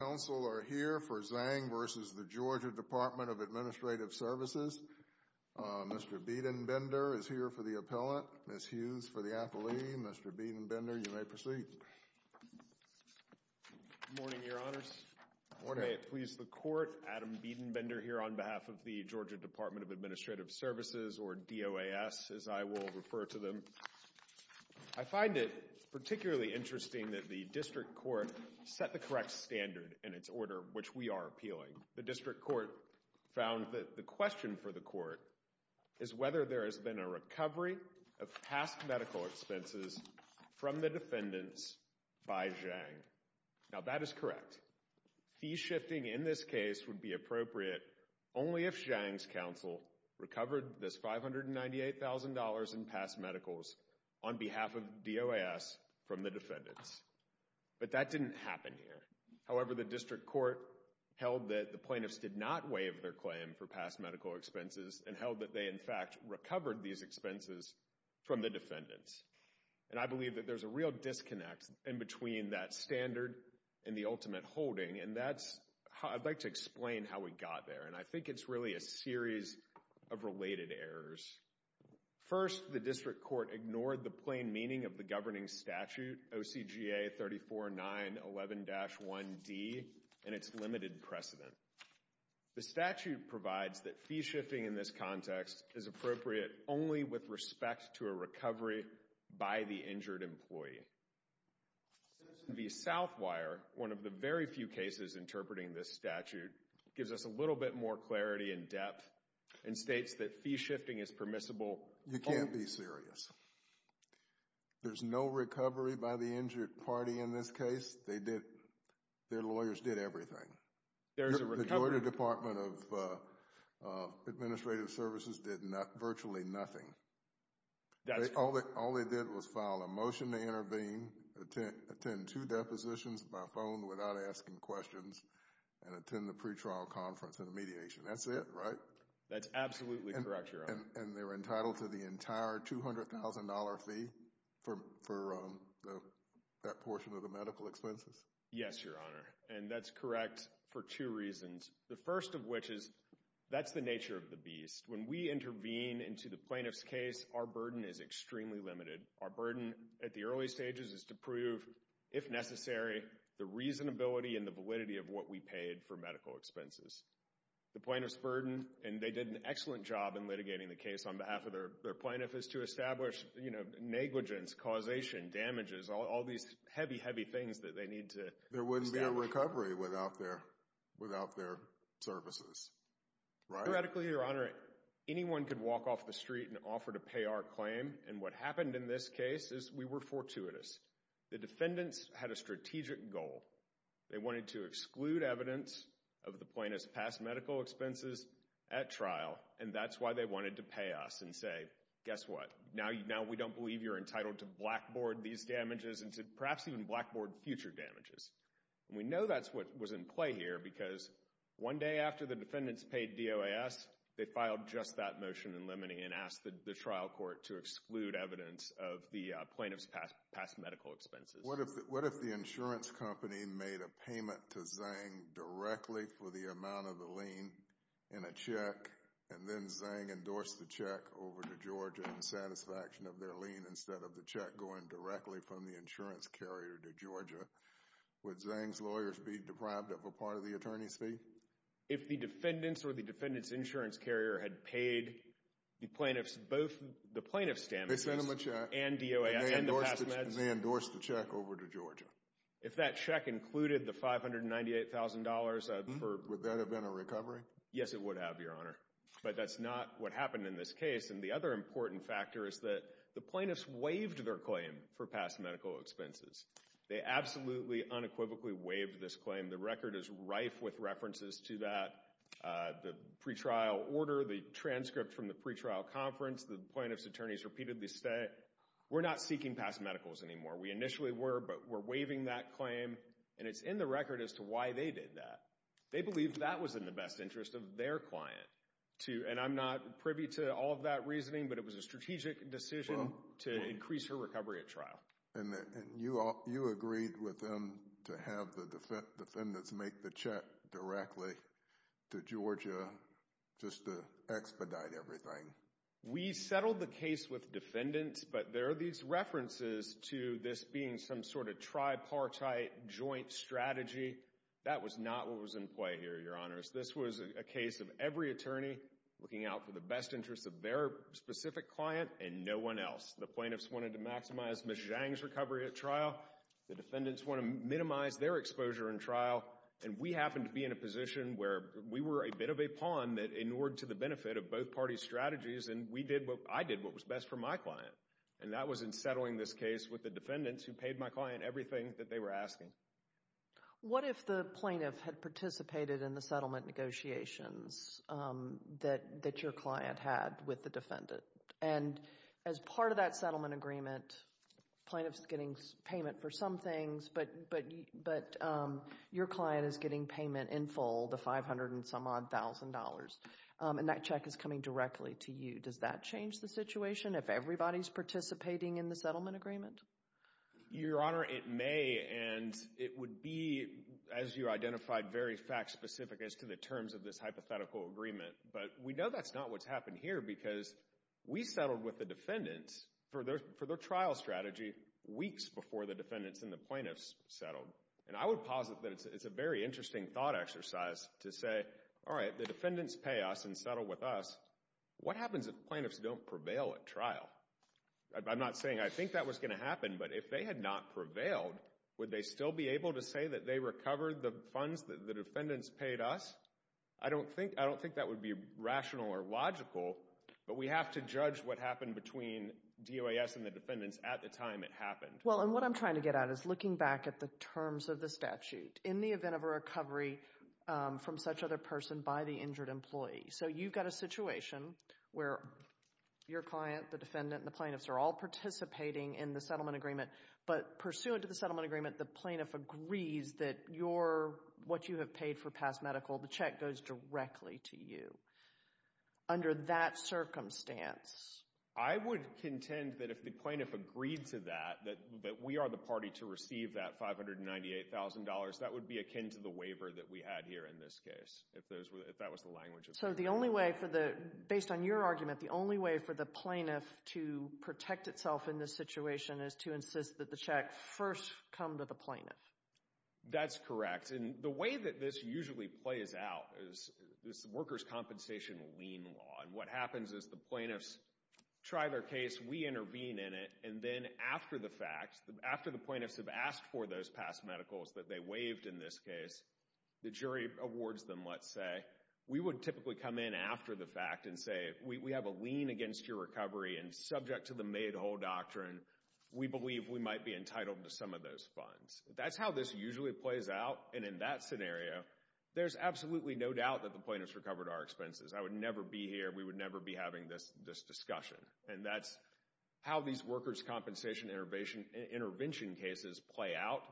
Council are here for Zhang v. The Georgia Department of Administrative Services. Mr. Biedenbender is here for the appellant, Ms. Hughes for the appellee. Mr. Biedenbender, you may proceed. Good morning, Your Honors. May it please the Court. Adam Biedenbender here on behalf of the Georgia Department of Administrative Services, or DOAS, as I will refer to them. I find it particularly interesting that the District Court set the correct standard in its order, which we are appealing. The District Court found that the question for the Court is whether there has been a recovery of past medical expenses from the defendants by Zhang. Now, that is correct. Fee shifting in this case would be appropriate only if Zhang's counsel recovered this $598,000 in past medicals on behalf of DOAS from the defendants. But that didn't happen here. However, the District Court held that the plaintiffs did not waive their claim for past medical expenses and held that they, in fact, recovered these expenses from the defendants. And I believe that there's a real disconnect in between that standard and the ultimate holding, and that's how I'd like to explain how we got there. And I think it's really a series of related errors. First, the District Court ignored the plain meaning of the governing statute, OCGA 34911-1D, and its limited precedent. The statute provides that fee shifting in this context is appropriate only with respect to a recovery by the injured employee. The Southwire, one of the very few cases interpreting this statute, gives us a little bit more clarity and depth and states that fee shifting is permissible. You can't be serious. There's no recovery by the injured party in this case. They did, their lawyers did everything. The Georgia Department of Administrative Services did virtually nothing. All they did was file a motion to intervene, attend two depositions by phone without asking questions, and attend the pretrial conference and mediation. That's it, right? That's absolutely correct, Your Honor. And they're entitled to the entire $200,000 fee for that portion of the medical expenses? Yes, Your Honor, and that's correct for two reasons. The first of which is that's the nature of the beast. When we intervene into the plaintiff's case, our burden is extremely limited. Our burden at the early stages is to prove, if necessary, the reasonability and the validity of what we paid for medical expenses. The plaintiff's burden, and they did an excellent job in litigating the case on behalf of their plaintiff, is to establish negligence, causation, damages, all these heavy, heavy things that they need to establish. There wouldn't be a recovery without their services, right? Theoretically, Your Honor, anyone could walk off the street and offer to pay our claim, and what happened in this case is we were fortuitous. The defendants had a strategic goal. They wanted to exclude evidence of the plaintiff's past medical expenses at trial, and that's why they wanted to pay us and say, guess what? Now we don't believe you're entitled to blackboard these damages and to perhaps even blackboard future damages. And we know that's what was in play here because one day after the defendants paid DOAS, they filed just that motion in limine and asked the trial court to exclude evidence of the plaintiff's past medical expenses. What if the insurance company made a payment to Zhang directly for the amount of the lien in a check, and then Zhang endorsed the check over to Georgia in satisfaction of their lien instead of the check going directly from the insurance carrier to Georgia? Would Zhang's lawyers be deprived of a part of the attorney's fee? If the defendants or the defendant's insurance carrier had paid the plaintiff's, both the plaintiff's damages and DOAS and the past meds. And they endorsed the check over to Georgia. If that check included the $598,000, would that have been a recovery? Yes, it would have, Your Honor. But that's not what happened in this case. And the other important factor is that the plaintiffs waived their claim for past medical expenses. They absolutely unequivocally waived this claim. The record is rife with references to that. The pretrial order, the transcript from the pretrial conference, the plaintiff's attorneys repeatedly say, we're not seeking past medicals anymore. We initially were, but we're waiving that claim. And it's in the record as to why they did that. They believe that was in the best interest of their client. And I'm not privy to all of that reasoning, but it was a strategic decision to increase her recovery at trial. And you agreed with them to have the defendants make the check directly to Georgia just to expedite everything. We settled the case with defendants, but there are these references to this being some sort of tripartite joint strategy. That was not what was in play here, Your Honors. This was a case of every attorney looking out for the best interest of their specific client and no one else. The plaintiffs wanted to maximize Ms. Zhang's recovery at trial. The defendants wanted to minimize their exposure in trial. And we happened to be in a position where we were a bit of a pawn that inured to the benefit of both parties' strategies, and we did what I did what was best for my client. And that was in settling this case with the defendants who paid my client everything that they were asking. What if the plaintiff had participated in the settlement negotiations that your client had with the defendant? And as part of that settlement agreement, plaintiffs getting payment for some things, but your client is getting payment in full, the $500 and some odd thousand dollars, and that check is coming directly to you. Does that change the situation if everybody's participating in the settlement agreement? Your Honor, it may, and it would be, as you identified, very fact-specific as to the terms of this hypothetical agreement. But we know that's not what's happened here because we settled with the defendants for their trial strategy weeks before the defendants and the plaintiffs settled. And I would posit that it's a very interesting thought exercise to say, all right, the defendants pay us and settle with us. What happens if plaintiffs don't prevail at trial? I'm not saying I think that was going to happen, but if they had not prevailed, would they still be able to say that they recovered the funds that the defendants paid us? I don't think that would be rational or logical, but we have to judge what happened between DOAS and the defendants at the time it happened. Well, and what I'm trying to get at is looking back at the terms of the statute in the event of a recovery from such other person by the injured employee. So you've got a situation where your client, the defendant, and the plaintiffs are all participating in the settlement agreement, but pursuant to the settlement agreement, the plaintiff agrees that what you have paid for past medical, the check goes directly to you under that circumstance. I would contend that if the plaintiff agreed to that, that we are the party to receive that $598,000, that would be akin to the waiver that we had here in this case, if that was the language. So the only way, based on your argument, the only way for the plaintiff to protect itself in this situation is to insist that the check first come to the plaintiff? That's correct, and the way that this usually plays out is this worker's compensation lien law, and what happens is the plaintiffs try their case, we intervene in it, and then after the fact, after the plaintiffs have asked for those past medicals that they waived in this case, the jury awards them, let's say. We would typically come in after the fact and say, we have a lien against your recovery, and subject to the made whole doctrine, we believe we might be entitled to some of those funds. That's how this usually plays out, and in that scenario, there's absolutely no doubt that the plaintiffs recovered our expenses. I would never be here, we would never be having this discussion, and that's how these worker's compensation intervention cases play out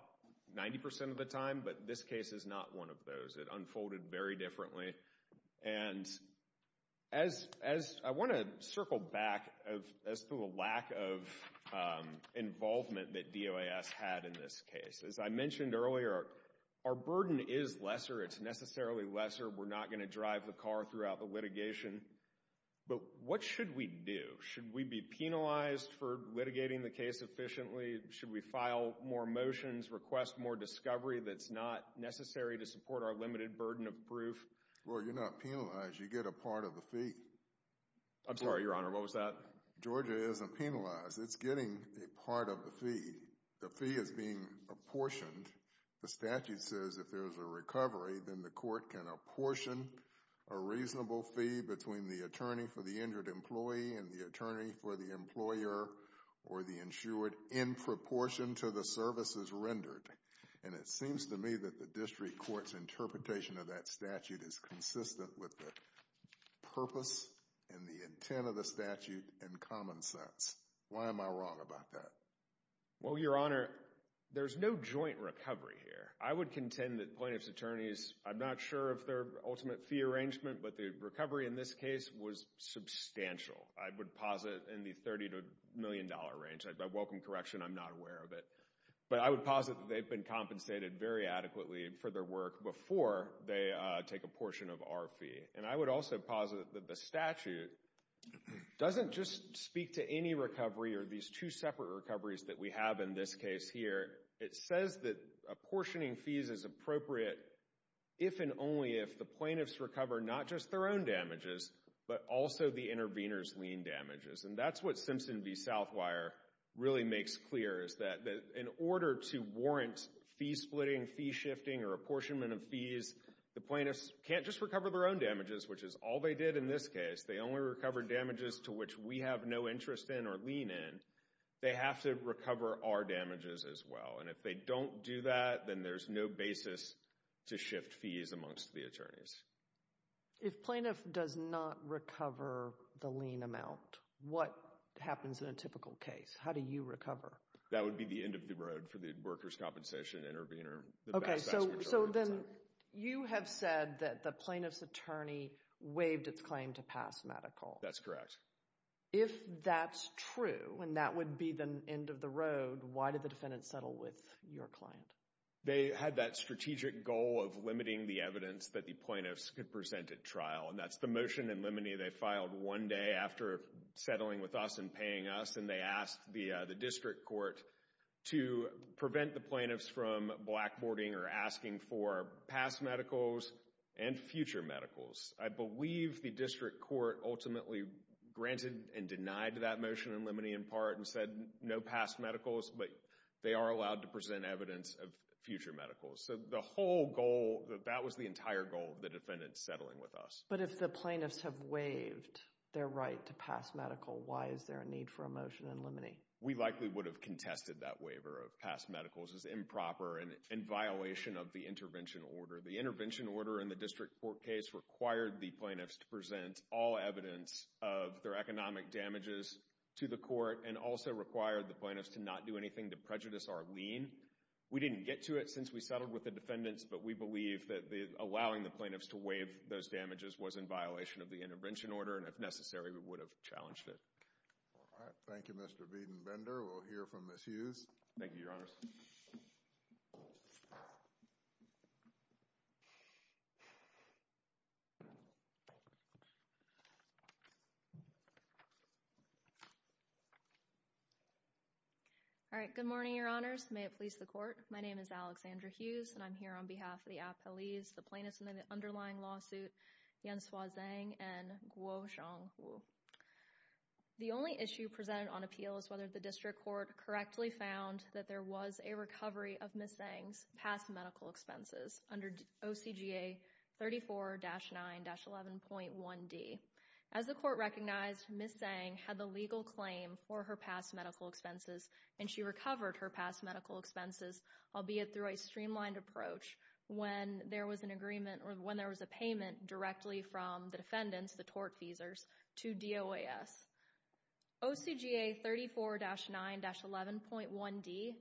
90% of the time, but this case is not one of those. It unfolded very differently, and I want to circle back as to the lack of involvement that DOAS had in this case. As I mentioned earlier, our burden is lesser, it's necessarily lesser, we're not going to drive the car throughout the litigation, but what should we do? Should we be penalized for litigating the case efficiently? Should we file more motions, request more discovery that's not necessary to support our limited burden of proof? Well, you're not penalized, you get a part of the fee. I'm sorry, Your Honor, what was that? Georgia isn't penalized, it's getting a part of the fee. The fee is being apportioned. The statute says if there's a recovery, then the court can apportion a reasonable fee between the attorney for the injured employee and the attorney for the employer, or the insured, in proportion to the services rendered. And it seems to me that the district court's interpretation of that statute is consistent with the purpose and the intent of the statute and common sense. Why am I wrong about that? Well, Your Honor, there's no joint recovery here. I would contend that plaintiff's attorneys, I'm not sure of their ultimate fee arrangement, but the recovery in this case was substantial. I would posit in the $30 million range. I welcome correction, I'm not aware of it. But I would posit that they've been compensated very adequately for their work before they take a portion of our fee. And I would also posit that the statute doesn't just speak to any recovery or these two separate recoveries that we have in this case here. It says that apportioning fees is appropriate if and only if the plaintiffs recover not just their own damages, but also the intervener's lien damages. And that's what Simpson v. Southwire really makes clear, is that in order to warrant fee splitting, fee shifting, or apportionment of fees, the plaintiffs can't just recover their own damages, which is all they did in this case. They only recovered damages to which we have no interest in or lien in. They have to recover our damages as well. And if they don't do that, then there's no basis to shift fees amongst the attorneys. If plaintiff does not recover the lien amount, what happens in a typical case? How do you recover? That would be the end of the road for the workers' compensation intervener. Okay, so then you have said that the plaintiff's attorney waived its claim to pass medical. That's correct. If that's true, and that would be the end of the road, why did the defendant settle with your client? They had that strategic goal of limiting the evidence that the plaintiffs could present at trial, and that's the motion in limine they filed one day after settling with us and paying us, and they asked the district court to prevent the plaintiffs from blackboarding or asking for past medicals and future medicals. I believe the district court ultimately granted and denied that motion in limine in part and said no past medicals, but they are allowed to present evidence of future medicals. So the whole goal, that was the entire goal of the defendant settling with us. But if the plaintiffs have waived their right to pass medical, why is there a need for a motion in limine? We likely would have contested that waiver of past medicals as improper and in violation of the intervention order. The intervention order in the district court case required the plaintiffs to present all evidence of their economic damages to the court and also required the plaintiffs to not do anything to prejudice our lien. We didn't get to it since we settled with the defendants, but we believe that allowing the plaintiffs to waive those damages was in violation of the intervention order, and if necessary, we would have challenged it. All right. Thank you, Mr. Beden-Bender. We'll hear from Ms. Hughes. Thank you, Your Honors. All right. Good morning, Your Honors. May it please the court. My name is Alexandra Hughes, and I'm here on behalf of the appellees, the plaintiffs in the underlying lawsuit, Yanshua Zhang and Guo Xiaohu. The only issue presented on appeal is whether the district court correctly found that there was a recovery of Ms. Zhang's past medical expenses under OCGA 34-9-11.1D. As the court recognized, Ms. Zhang had the legal claim for her past medical expenses, and she recovered her past medical expenses, albeit through a streamlined approach, when there was an agreement or when there was a payment directly from the defendants, the tortfeasors, to DOAS. OCGA 34-9-11.1D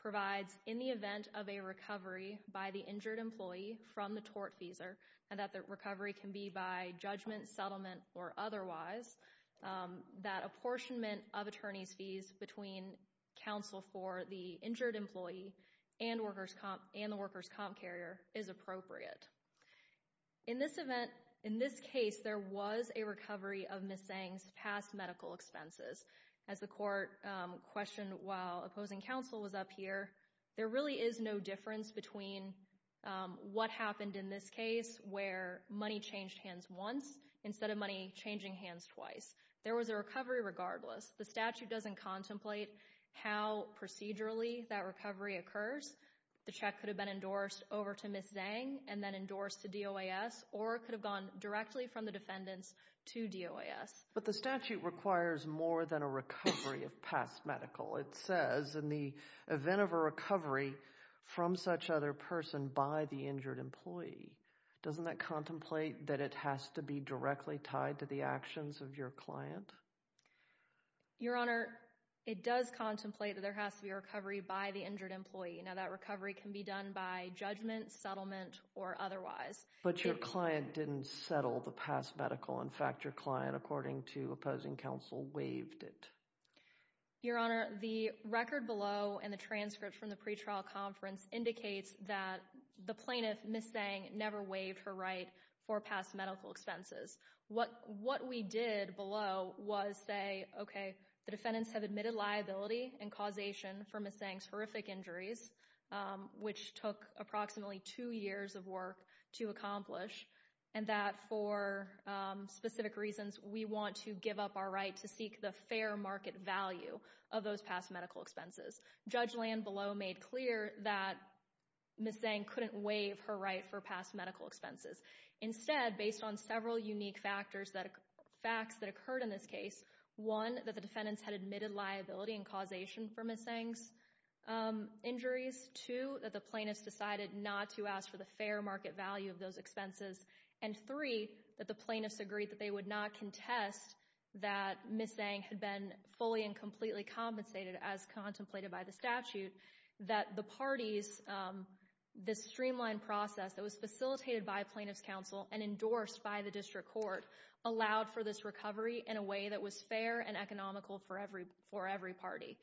provides in the event of a recovery by the injured employee from the tortfeasor and that the recovery can be by judgment, settlement, or otherwise, that apportionment of attorney's fees between counsel for the injured employee and the workers' comp carrier is appropriate. In this event, in this case, there was a recovery of Ms. Zhang's past medical expenses. As the court questioned while opposing counsel was up here, there really is no difference between what happened in this case where money changed hands once instead of money changing hands twice. There was a recovery regardless. The statute doesn't contemplate how procedurally that recovery occurs. The check could have been endorsed over to Ms. Zhang and then endorsed to DOAS or it could have gone directly from the defendants to DOAS. But the statute requires more than a recovery of past medical. It says in the event of a recovery from such other person by the injured employee, doesn't that contemplate that it has to be directly tied to the actions of your client? Your Honor, it does contemplate that there has to be a recovery by the injured employee. Now, that recovery can be done by judgment, settlement, or otherwise. But your client didn't settle the past medical. In fact, your client, according to opposing counsel, waived it. Your Honor, the record below and the transcript from the pretrial conference indicates that the plaintiff, Ms. Zhang, never waived her right for past medical expenses. What we did below was say, okay, the defendants have admitted liability and causation for Ms. Zhang's horrific injuries, which took approximately two years of work to accomplish, and that for specific reasons we want to give up our right to seek the fair market value of those past medical expenses. Judge Lanbelow made clear that Ms. Zhang couldn't waive her right for past medical expenses. Instead, based on several unique facts that occurred in this case, one, that the defendants had admitted liability and causation for Ms. Zhang's injuries, two, that the plaintiffs decided not to ask for the fair market value of those expenses, and three, that the plaintiffs agreed that they would not contest that Ms. Zhang had been fully and completely compensated as contemplated by the statute, that the parties, this streamlined process that was facilitated by plaintiffs' counsel and endorsed by the district court, allowed for this recovery in a way that was fair and economical for every party.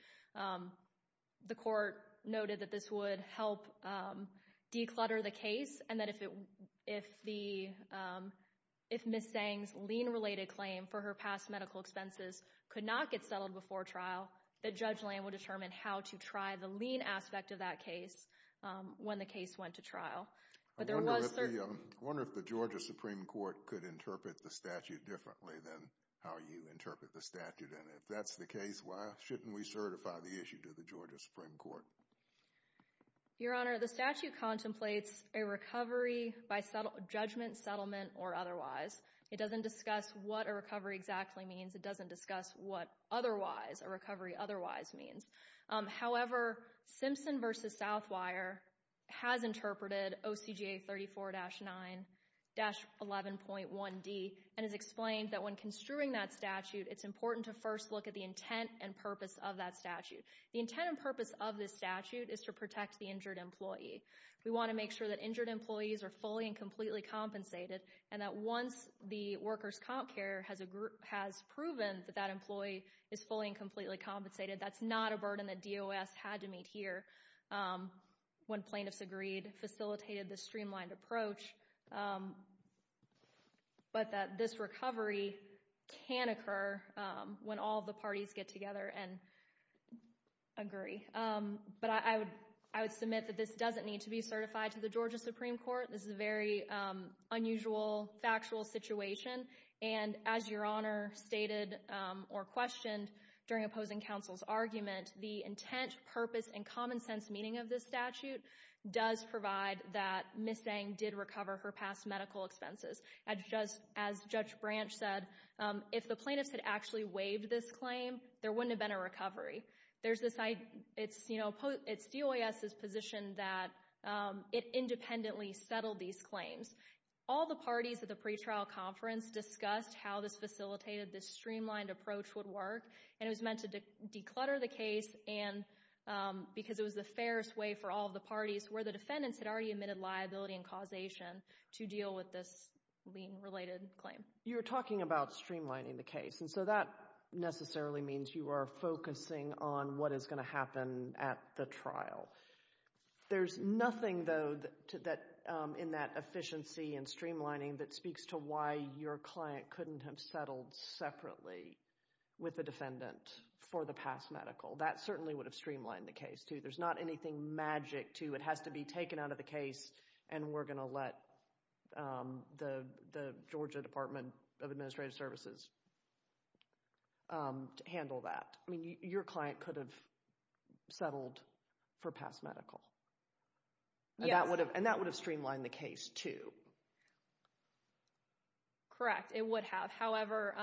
The court noted that this would help declutter the case and that if Ms. Zhang's lien-related claim for her past medical expenses could not get settled before trial, that Judge Lan will determine how to try the lien aspect of that case when the case went to trial. I wonder if the Georgia Supreme Court could interpret the statute differently than how you interpret the statute, and if that's the case, why shouldn't we certify the issue to the Georgia Supreme Court? Your Honor, the statute contemplates a recovery by judgment, settlement, or otherwise. It doesn't discuss what a recovery exactly means. It doesn't discuss what otherwise, a recovery otherwise means. However, Simpson v. Southwire has interpreted OCGA 34-9-11.1d and has explained that when construing that statute, it's important to first look at the intent and purpose of that statute. The intent and purpose of this statute is to protect the injured employee. We want to make sure that injured employees are fully and completely compensated and that once the workers' comp care has proven that that employee is fully and completely compensated, that's not a burden that DOS had to meet here when plaintiffs agreed, facilitated the streamlined approach, but that this recovery can occur when all the parties get together and agree. But I would submit that this doesn't need to be certified to the Georgia Supreme Court. This is a very unusual, factual situation, and as Your Honor stated or questioned during opposing counsel's argument, the intent, purpose, and common sense meaning of this statute does provide that Ms. Zhang did recover her past medical expenses. As Judge Branch said, if the plaintiffs had actually waived this claim, there wouldn't have been a recovery. It's DOS's position that it independently settled these claims. All the parties at the pretrial conference discussed how this facilitated, this streamlined approach would work, and it was meant to declutter the case because it was the fairest way for all the parties where the defendants had already admitted liability and causation to deal with this lien-related claim. You were talking about streamlining the case, and so that necessarily means you are focusing on what is going to happen at the trial. There's nothing, though, in that efficiency and streamlining that speaks to why your client couldn't have settled separately with the defendant for the past medical. That certainly would have streamlined the case, too. There's not anything magic, too. It has to be taken out of the case, and we're going to let the Georgia Department of Administrative Services handle that. Your client could have settled for past medical, and that would have streamlined the case, too. Correct. It would have. However,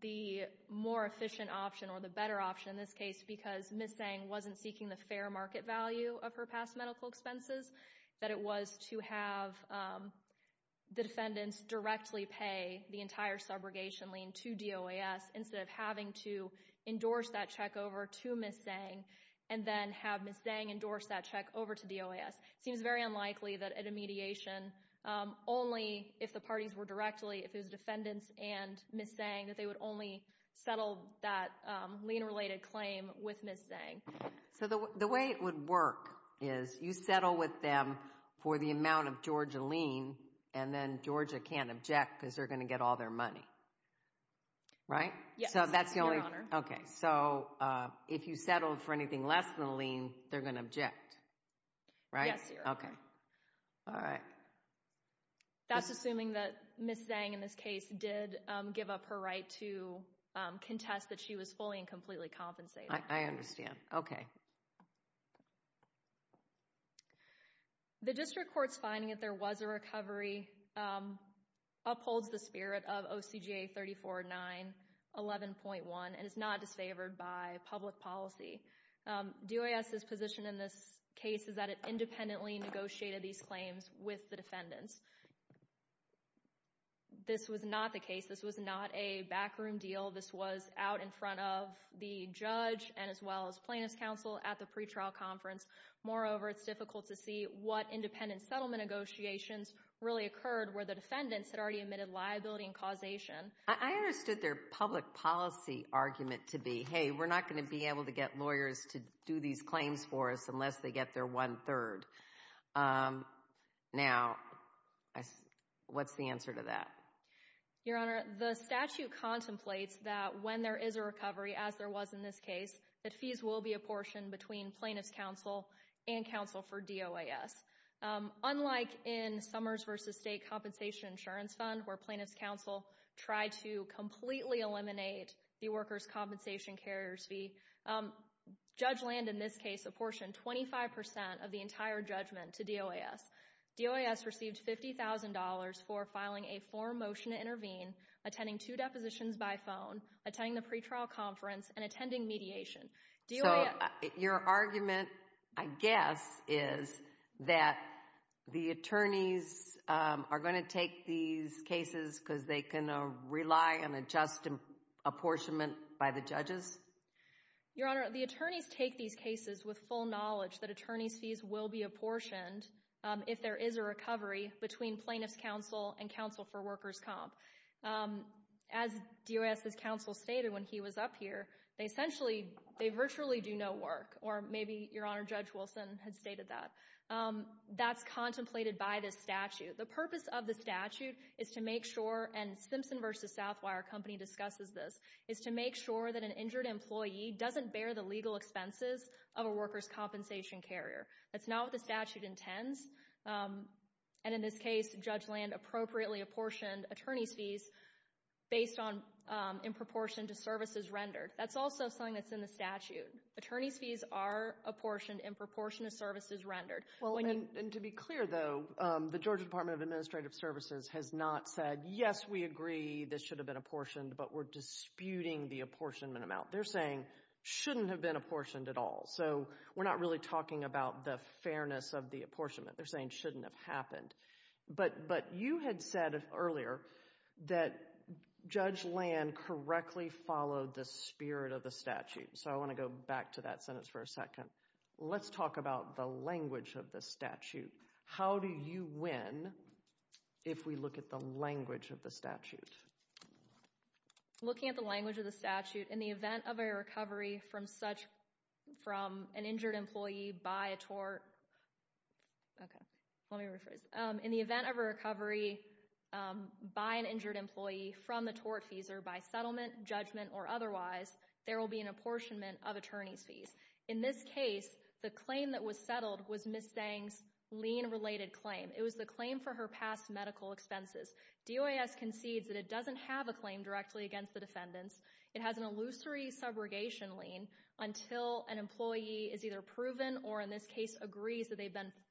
the more efficient option or the better option in this case because Ms. Sang wasn't seeking the fair market value of her past medical expenses, that it was to have the defendants directly pay the entire subrogation lien to DOS instead of having to endorse that check over to Ms. Sang and then have Ms. Sang endorse that check over to DOS. It seems very unlikely that at a mediation, only if the parties were directly, if it was defendants and Ms. Sang, that they would only settle that lien-related claim with Ms. Sang. So the way it would work is you settle with them for the amount of Georgia lien, and then Georgia can't object because they're going to get all their money, right? Yes, Your Honor. Okay. So if you settled for anything less than a lien, they're going to object, right? Yes, Your Honor. Okay. All right. That's assuming that Ms. Sang, in this case, did give up her right to contest that she was fully and completely compensated. I understand. Okay. The district court's finding that there was a recovery upholds the spirit of OCGA 34-9-11.1 and is not disfavored by public policy. DOS's position in this case is that it independently negotiated these claims with the defendants. This was not the case. This was not a backroom deal. This was out in front of the judge and as well as plaintiff's counsel at the pretrial conference. Moreover, it's difficult to see what independent settlement negotiations really occurred where the defendants had already admitted liability and causation. I understood their public policy argument to be, hey, we're not going to be able to get lawyers to do these claims for us unless they get their one-third. Now, what's the answer to that? Your Honor, the statute contemplates that when there is a recovery, as there was in this case, that fees will be apportioned between plaintiff's counsel and counsel for DOAS. Unlike in Summers v. State Compensation Insurance Fund, where plaintiff's counsel tried to completely eliminate the worker's compensation carrier's fee, Judge Land, in this case, apportioned 25 percent of the entire judgment to DOAS. DOAS received $50,000 for filing a form motion to intervene, attending two depositions by phone, attending the pretrial conference, and attending mediation. So, your argument, I guess, is that the attorneys are going to take these cases because they can rely on a just apportionment by the judges? Your Honor, the attorneys take these cases with full knowledge that attorney's fees will be apportioned. If there is a recovery between plaintiff's counsel and counsel for worker's comp. As DOAS's counsel stated when he was up here, they essentially, they virtually do no work. Or maybe your Honor, Judge Wilson had stated that. That's contemplated by this statute. The purpose of the statute is to make sure, and Simpson v. Southwire Company discusses this, is to make sure that an injured employee doesn't bear the legal expenses of a worker's compensation carrier. That's not what the statute intends. And in this case, Judge Land appropriately apportioned attorney's fees based on in proportion to services rendered. That's also something that's in the statute. Attorney's fees are apportioned in proportion to services rendered. Well, and to be clear, though, the Georgia Department of Administrative Services has not said, yes, we agree this should have been apportioned, but we're disputing the apportionment amount. They're saying it shouldn't have been apportioned at all. So we're not really talking about the fairness of the apportionment. They're saying it shouldn't have happened. But you had said earlier that Judge Land correctly followed the spirit of the statute. So I want to go back to that sentence for a second. Let's talk about the language of the statute. How do you win if we look at the language of the statute? Looking at the language of the statute, in the event of a recovery from such from an injured employee by a tort. OK, let me rephrase. In the event of a recovery by an injured employee from the tort fees or by settlement, judgment or otherwise, there will be an apportionment of attorney's fees. In this case, the claim that was settled was Ms. Zhang's lien related claim. It was the claim for her past medical expenses. DOAS concedes that it doesn't have a claim directly against the defendants. It has an illusory subrogation lien until an employee is either proven or, in this case, agrees that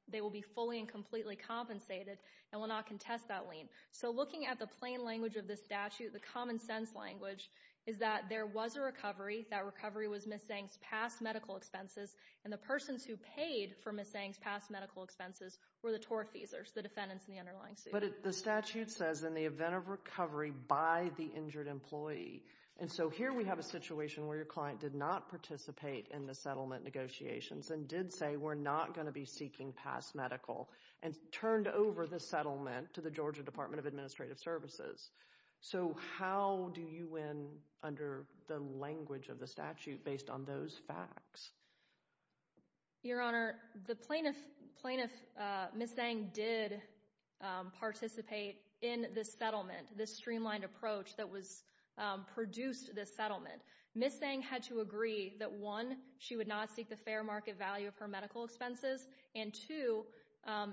they will be fully and completely compensated and will not contest that lien. So looking at the plain language of the statute, the common sense language, is that there was a recovery. That recovery was Ms. Zhang's past medical expenses. And the persons who paid for Ms. Zhang's past medical expenses were the tort fees or the defendants in the underlying suit. But the statute says in the event of recovery by the injured employee. And so here we have a situation where your client did not participate in the settlement negotiations and did say we're not going to be seeking past medical and turned over the settlement to the Georgia Department of Administrative Services. So how do you win under the language of the statute based on those facts? Your Honor, the plaintiff, Ms. Zhang, did participate in this settlement, this streamlined approach that produced this settlement. Ms. Zhang had to agree that, one, she would not seek the fair market value of her medical expenses and, two,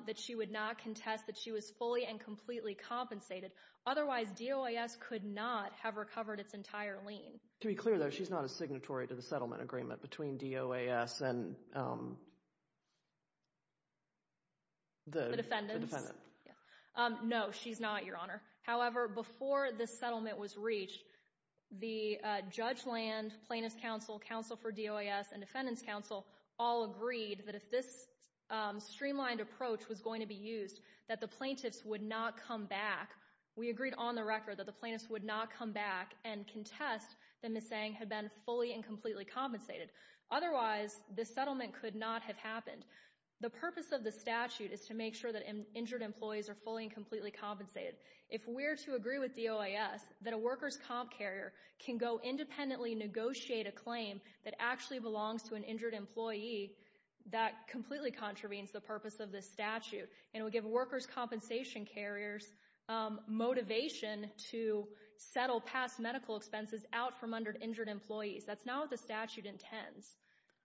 that she would not contest that she was fully and completely compensated. Otherwise, DOAS could not have recovered its entire lien. To be clear, though, she's not a signatory to the settlement agreement between DOAS and the defendants? The defendants. No, she's not, Your Honor. However, before this settlement was reached, the Judge Land, Plaintiff's Counsel, Counsel for DOAS, and Defendant's Counsel all agreed that if this streamlined approach was going to be used, that the plaintiffs would not come back. We agreed on the record that the plaintiffs would not come back and contest that Ms. Zhang had been fully and completely compensated. Otherwise, this settlement could not have happened. The purpose of the statute is to make sure that injured employees are fully and completely compensated. If we're to agree with DOAS that a workers' comp carrier can go independently negotiate a claim that actually belongs to an injured employee, that completely contravenes the purpose of this statute and will give workers' compensation carriers motivation to settle past medical expenses out from under injured employees. That's not what the statute intends.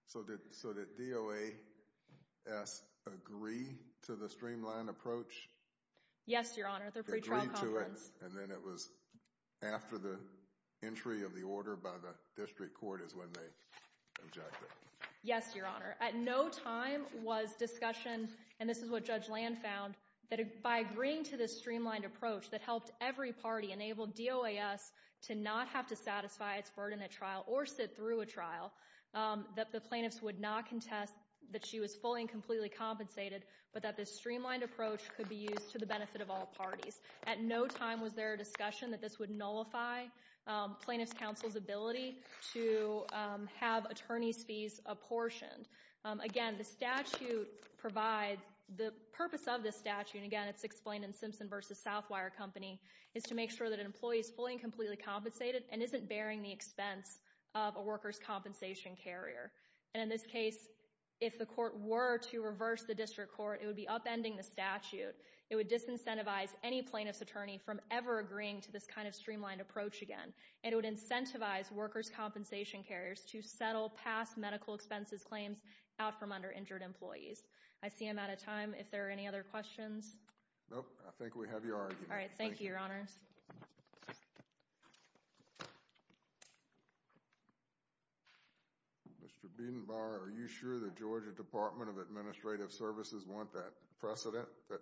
So did DOAS agree to the streamlined approach? Yes, Your Honor. At their pre-trial conference. Agree to it, and then it was after the entry of the order by the district court is when they objected. Yes, Your Honor. At no time was discussion, and this is what Judge Land found, that by agreeing to this streamlined approach that helped every party enable DOAS to not have to satisfy its burden at trial or sit through a trial, that the plaintiffs would not contest that she was fully and completely compensated, but that this streamlined approach could be used to the benefit of all parties. At no time was there discussion that this would nullify plaintiffs' counsel's ability to have attorney's fees apportioned. Again, the purpose of this statute, and again, it's explained in Simpson v. Southwire Company, is to make sure that an employee is fully and completely compensated and isn't bearing the expense of a workers' compensation carrier. And in this case, if the court were to reverse the district court, it would be upending the statute. It would disincentivize any plaintiff's attorney from ever agreeing to this kind of streamlined approach again. It would incentivize workers' compensation carriers to settle past medical expenses claims out from under-injured employees. I see I'm out of time. If there are any other questions? Nope. I think we have your argument. All right. Thank you, Your Honors. Thank you. Mr. Biedenbauer, are you sure the Georgia Department of Administrative Services want that precedent that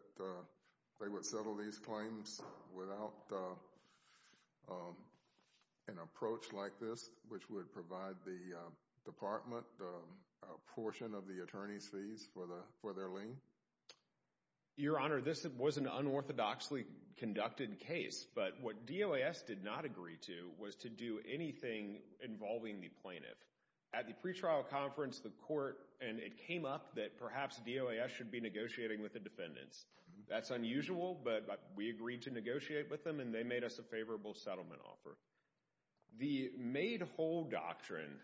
they would settle these claims without an approach like this, which would provide the department a portion of the attorney's fees for their lien? Your Honor, this was an unorthodoxly conducted case, but what DOAS did not agree to was to do anything involving the plaintiff. At the pretrial conference, the court, and it came up that perhaps DOAS should be negotiating with the defendants. That's unusual, but we agreed to negotiate with them, and they made us a favorable settlement offer. The made whole doctrine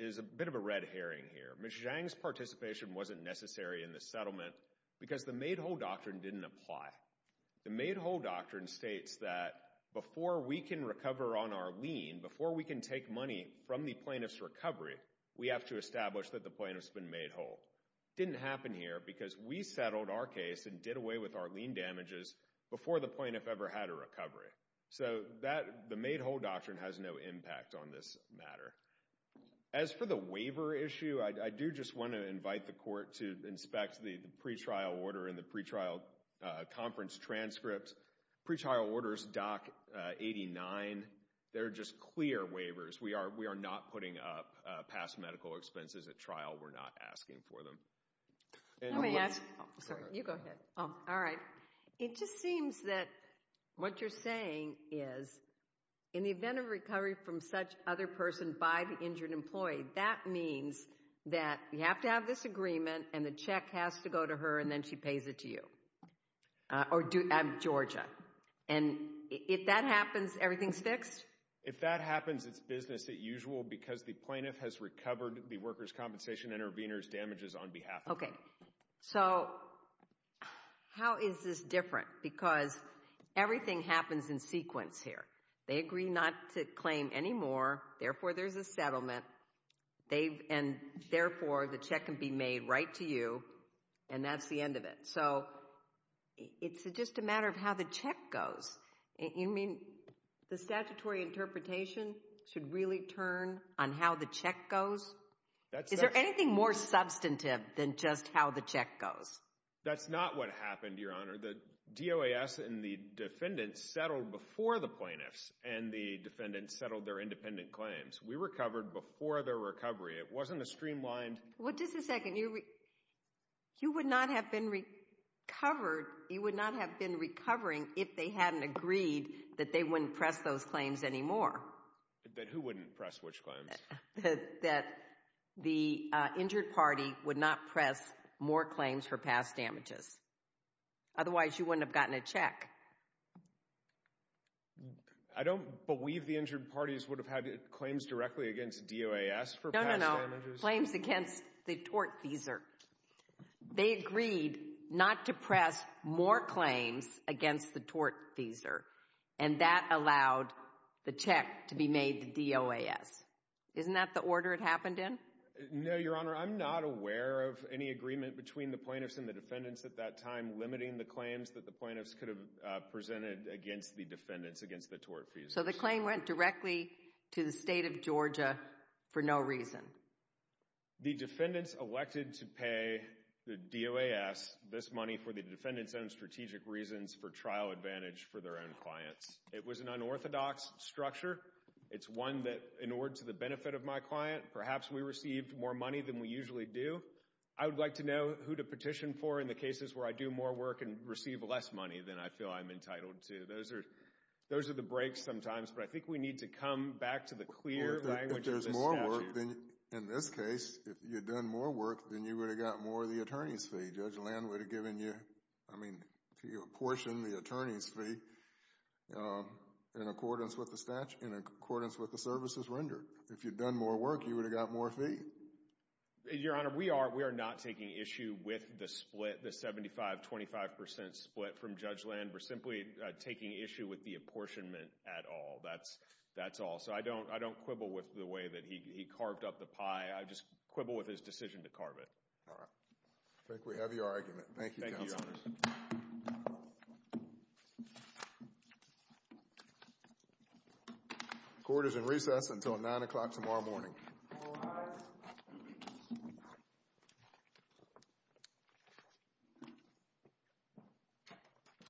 is a bit of a red herring here. Ms. Zhang's participation wasn't necessary in the settlement because the made whole doctrine didn't apply. The made whole doctrine states that before we can recover on our lien, before we can take money from the plaintiff's recovery, we have to establish that the plaintiff's been made whole. It didn't happen here because we settled our case and did away with our lien damages before the plaintiff ever had a recovery. So the made whole doctrine has no impact on this matter. As for the waiver issue, I do just want to invite the court to inspect the pretrial order and the pretrial conference transcript. Pretrial order is Doc 89. They're just clear waivers. We are not putting up past medical expenses at trial. We're not asking for them. Let me ask – sorry, you go ahead. Oh, all right. It just seems that what you're saying is in the event of recovery from such other person by the injured employee, that means that you have to have this agreement, and the check has to go to her, and then she pays it to you at Georgia. And if that happens, everything's fixed? If that happens, it's business as usual because the plaintiff has recovered the workers' compensation intervenors' damages on behalf of them. Okay. So how is this different? Because everything happens in sequence here. They agree not to claim any more, therefore there's a settlement, and therefore the check can be made right to you, and that's the end of it. So it's just a matter of how the check goes. You mean the statutory interpretation should really turn on how the check goes? Is there anything more substantive than just how the check goes? That's not what happened, Your Honor. The DOAS and the defendants settled before the plaintiffs, and the defendants settled their independent claims. We recovered before their recovery. It wasn't a streamlined – Well, just a second. You would not have been recovered – you would not have been recovering if they hadn't agreed that they wouldn't press those claims anymore. That who wouldn't press which claims? That the injured party would not press more claims for past damages. Otherwise, you wouldn't have gotten a check. I don't believe the injured parties would have had claims directly against DOAS for past damages. No, no, no. Claims against the tortfeasor. They agreed not to press more claims against the tortfeasor, and that allowed the check to be made to DOAS. Isn't that the order it happened in? No, Your Honor. I'm not aware of any agreement between the plaintiffs and the defendants at that time limiting the claims that the plaintiffs could have presented against the defendants, against the tortfeasor. So the claim went directly to the state of Georgia for no reason? The defendants elected to pay the DOAS this money for the defendants' own strategic reasons for trial advantage for their own clients. It was an unorthodox structure. It's one that in order to the benefit of my client, perhaps we received more money than we usually do. I would like to know who to petition for in the cases where I do more work and receive less money than I feel I'm entitled to. Those are the breaks sometimes, but I think we need to come back to the clear language of the statute. In this case, if you'd done more work, then you would have gotten more of the attorney's fee. Judge Land would have given you, I mean, apportioned the attorney's fee in accordance with the statute, in accordance with the services rendered. If you'd done more work, you would have gotten more fee. Your Honor, we are not taking issue with the split, the 75-25% split from Judge Land. We're simply taking issue with the apportionment at all. That's all. I don't quibble with the way that he carved up the pie. I just quibble with his decision to carve it. All right. I think we have your argument. Thank you, Counsel. Thank you, Your Honor. Court is in recess until 9 o'clock tomorrow morning. All rise.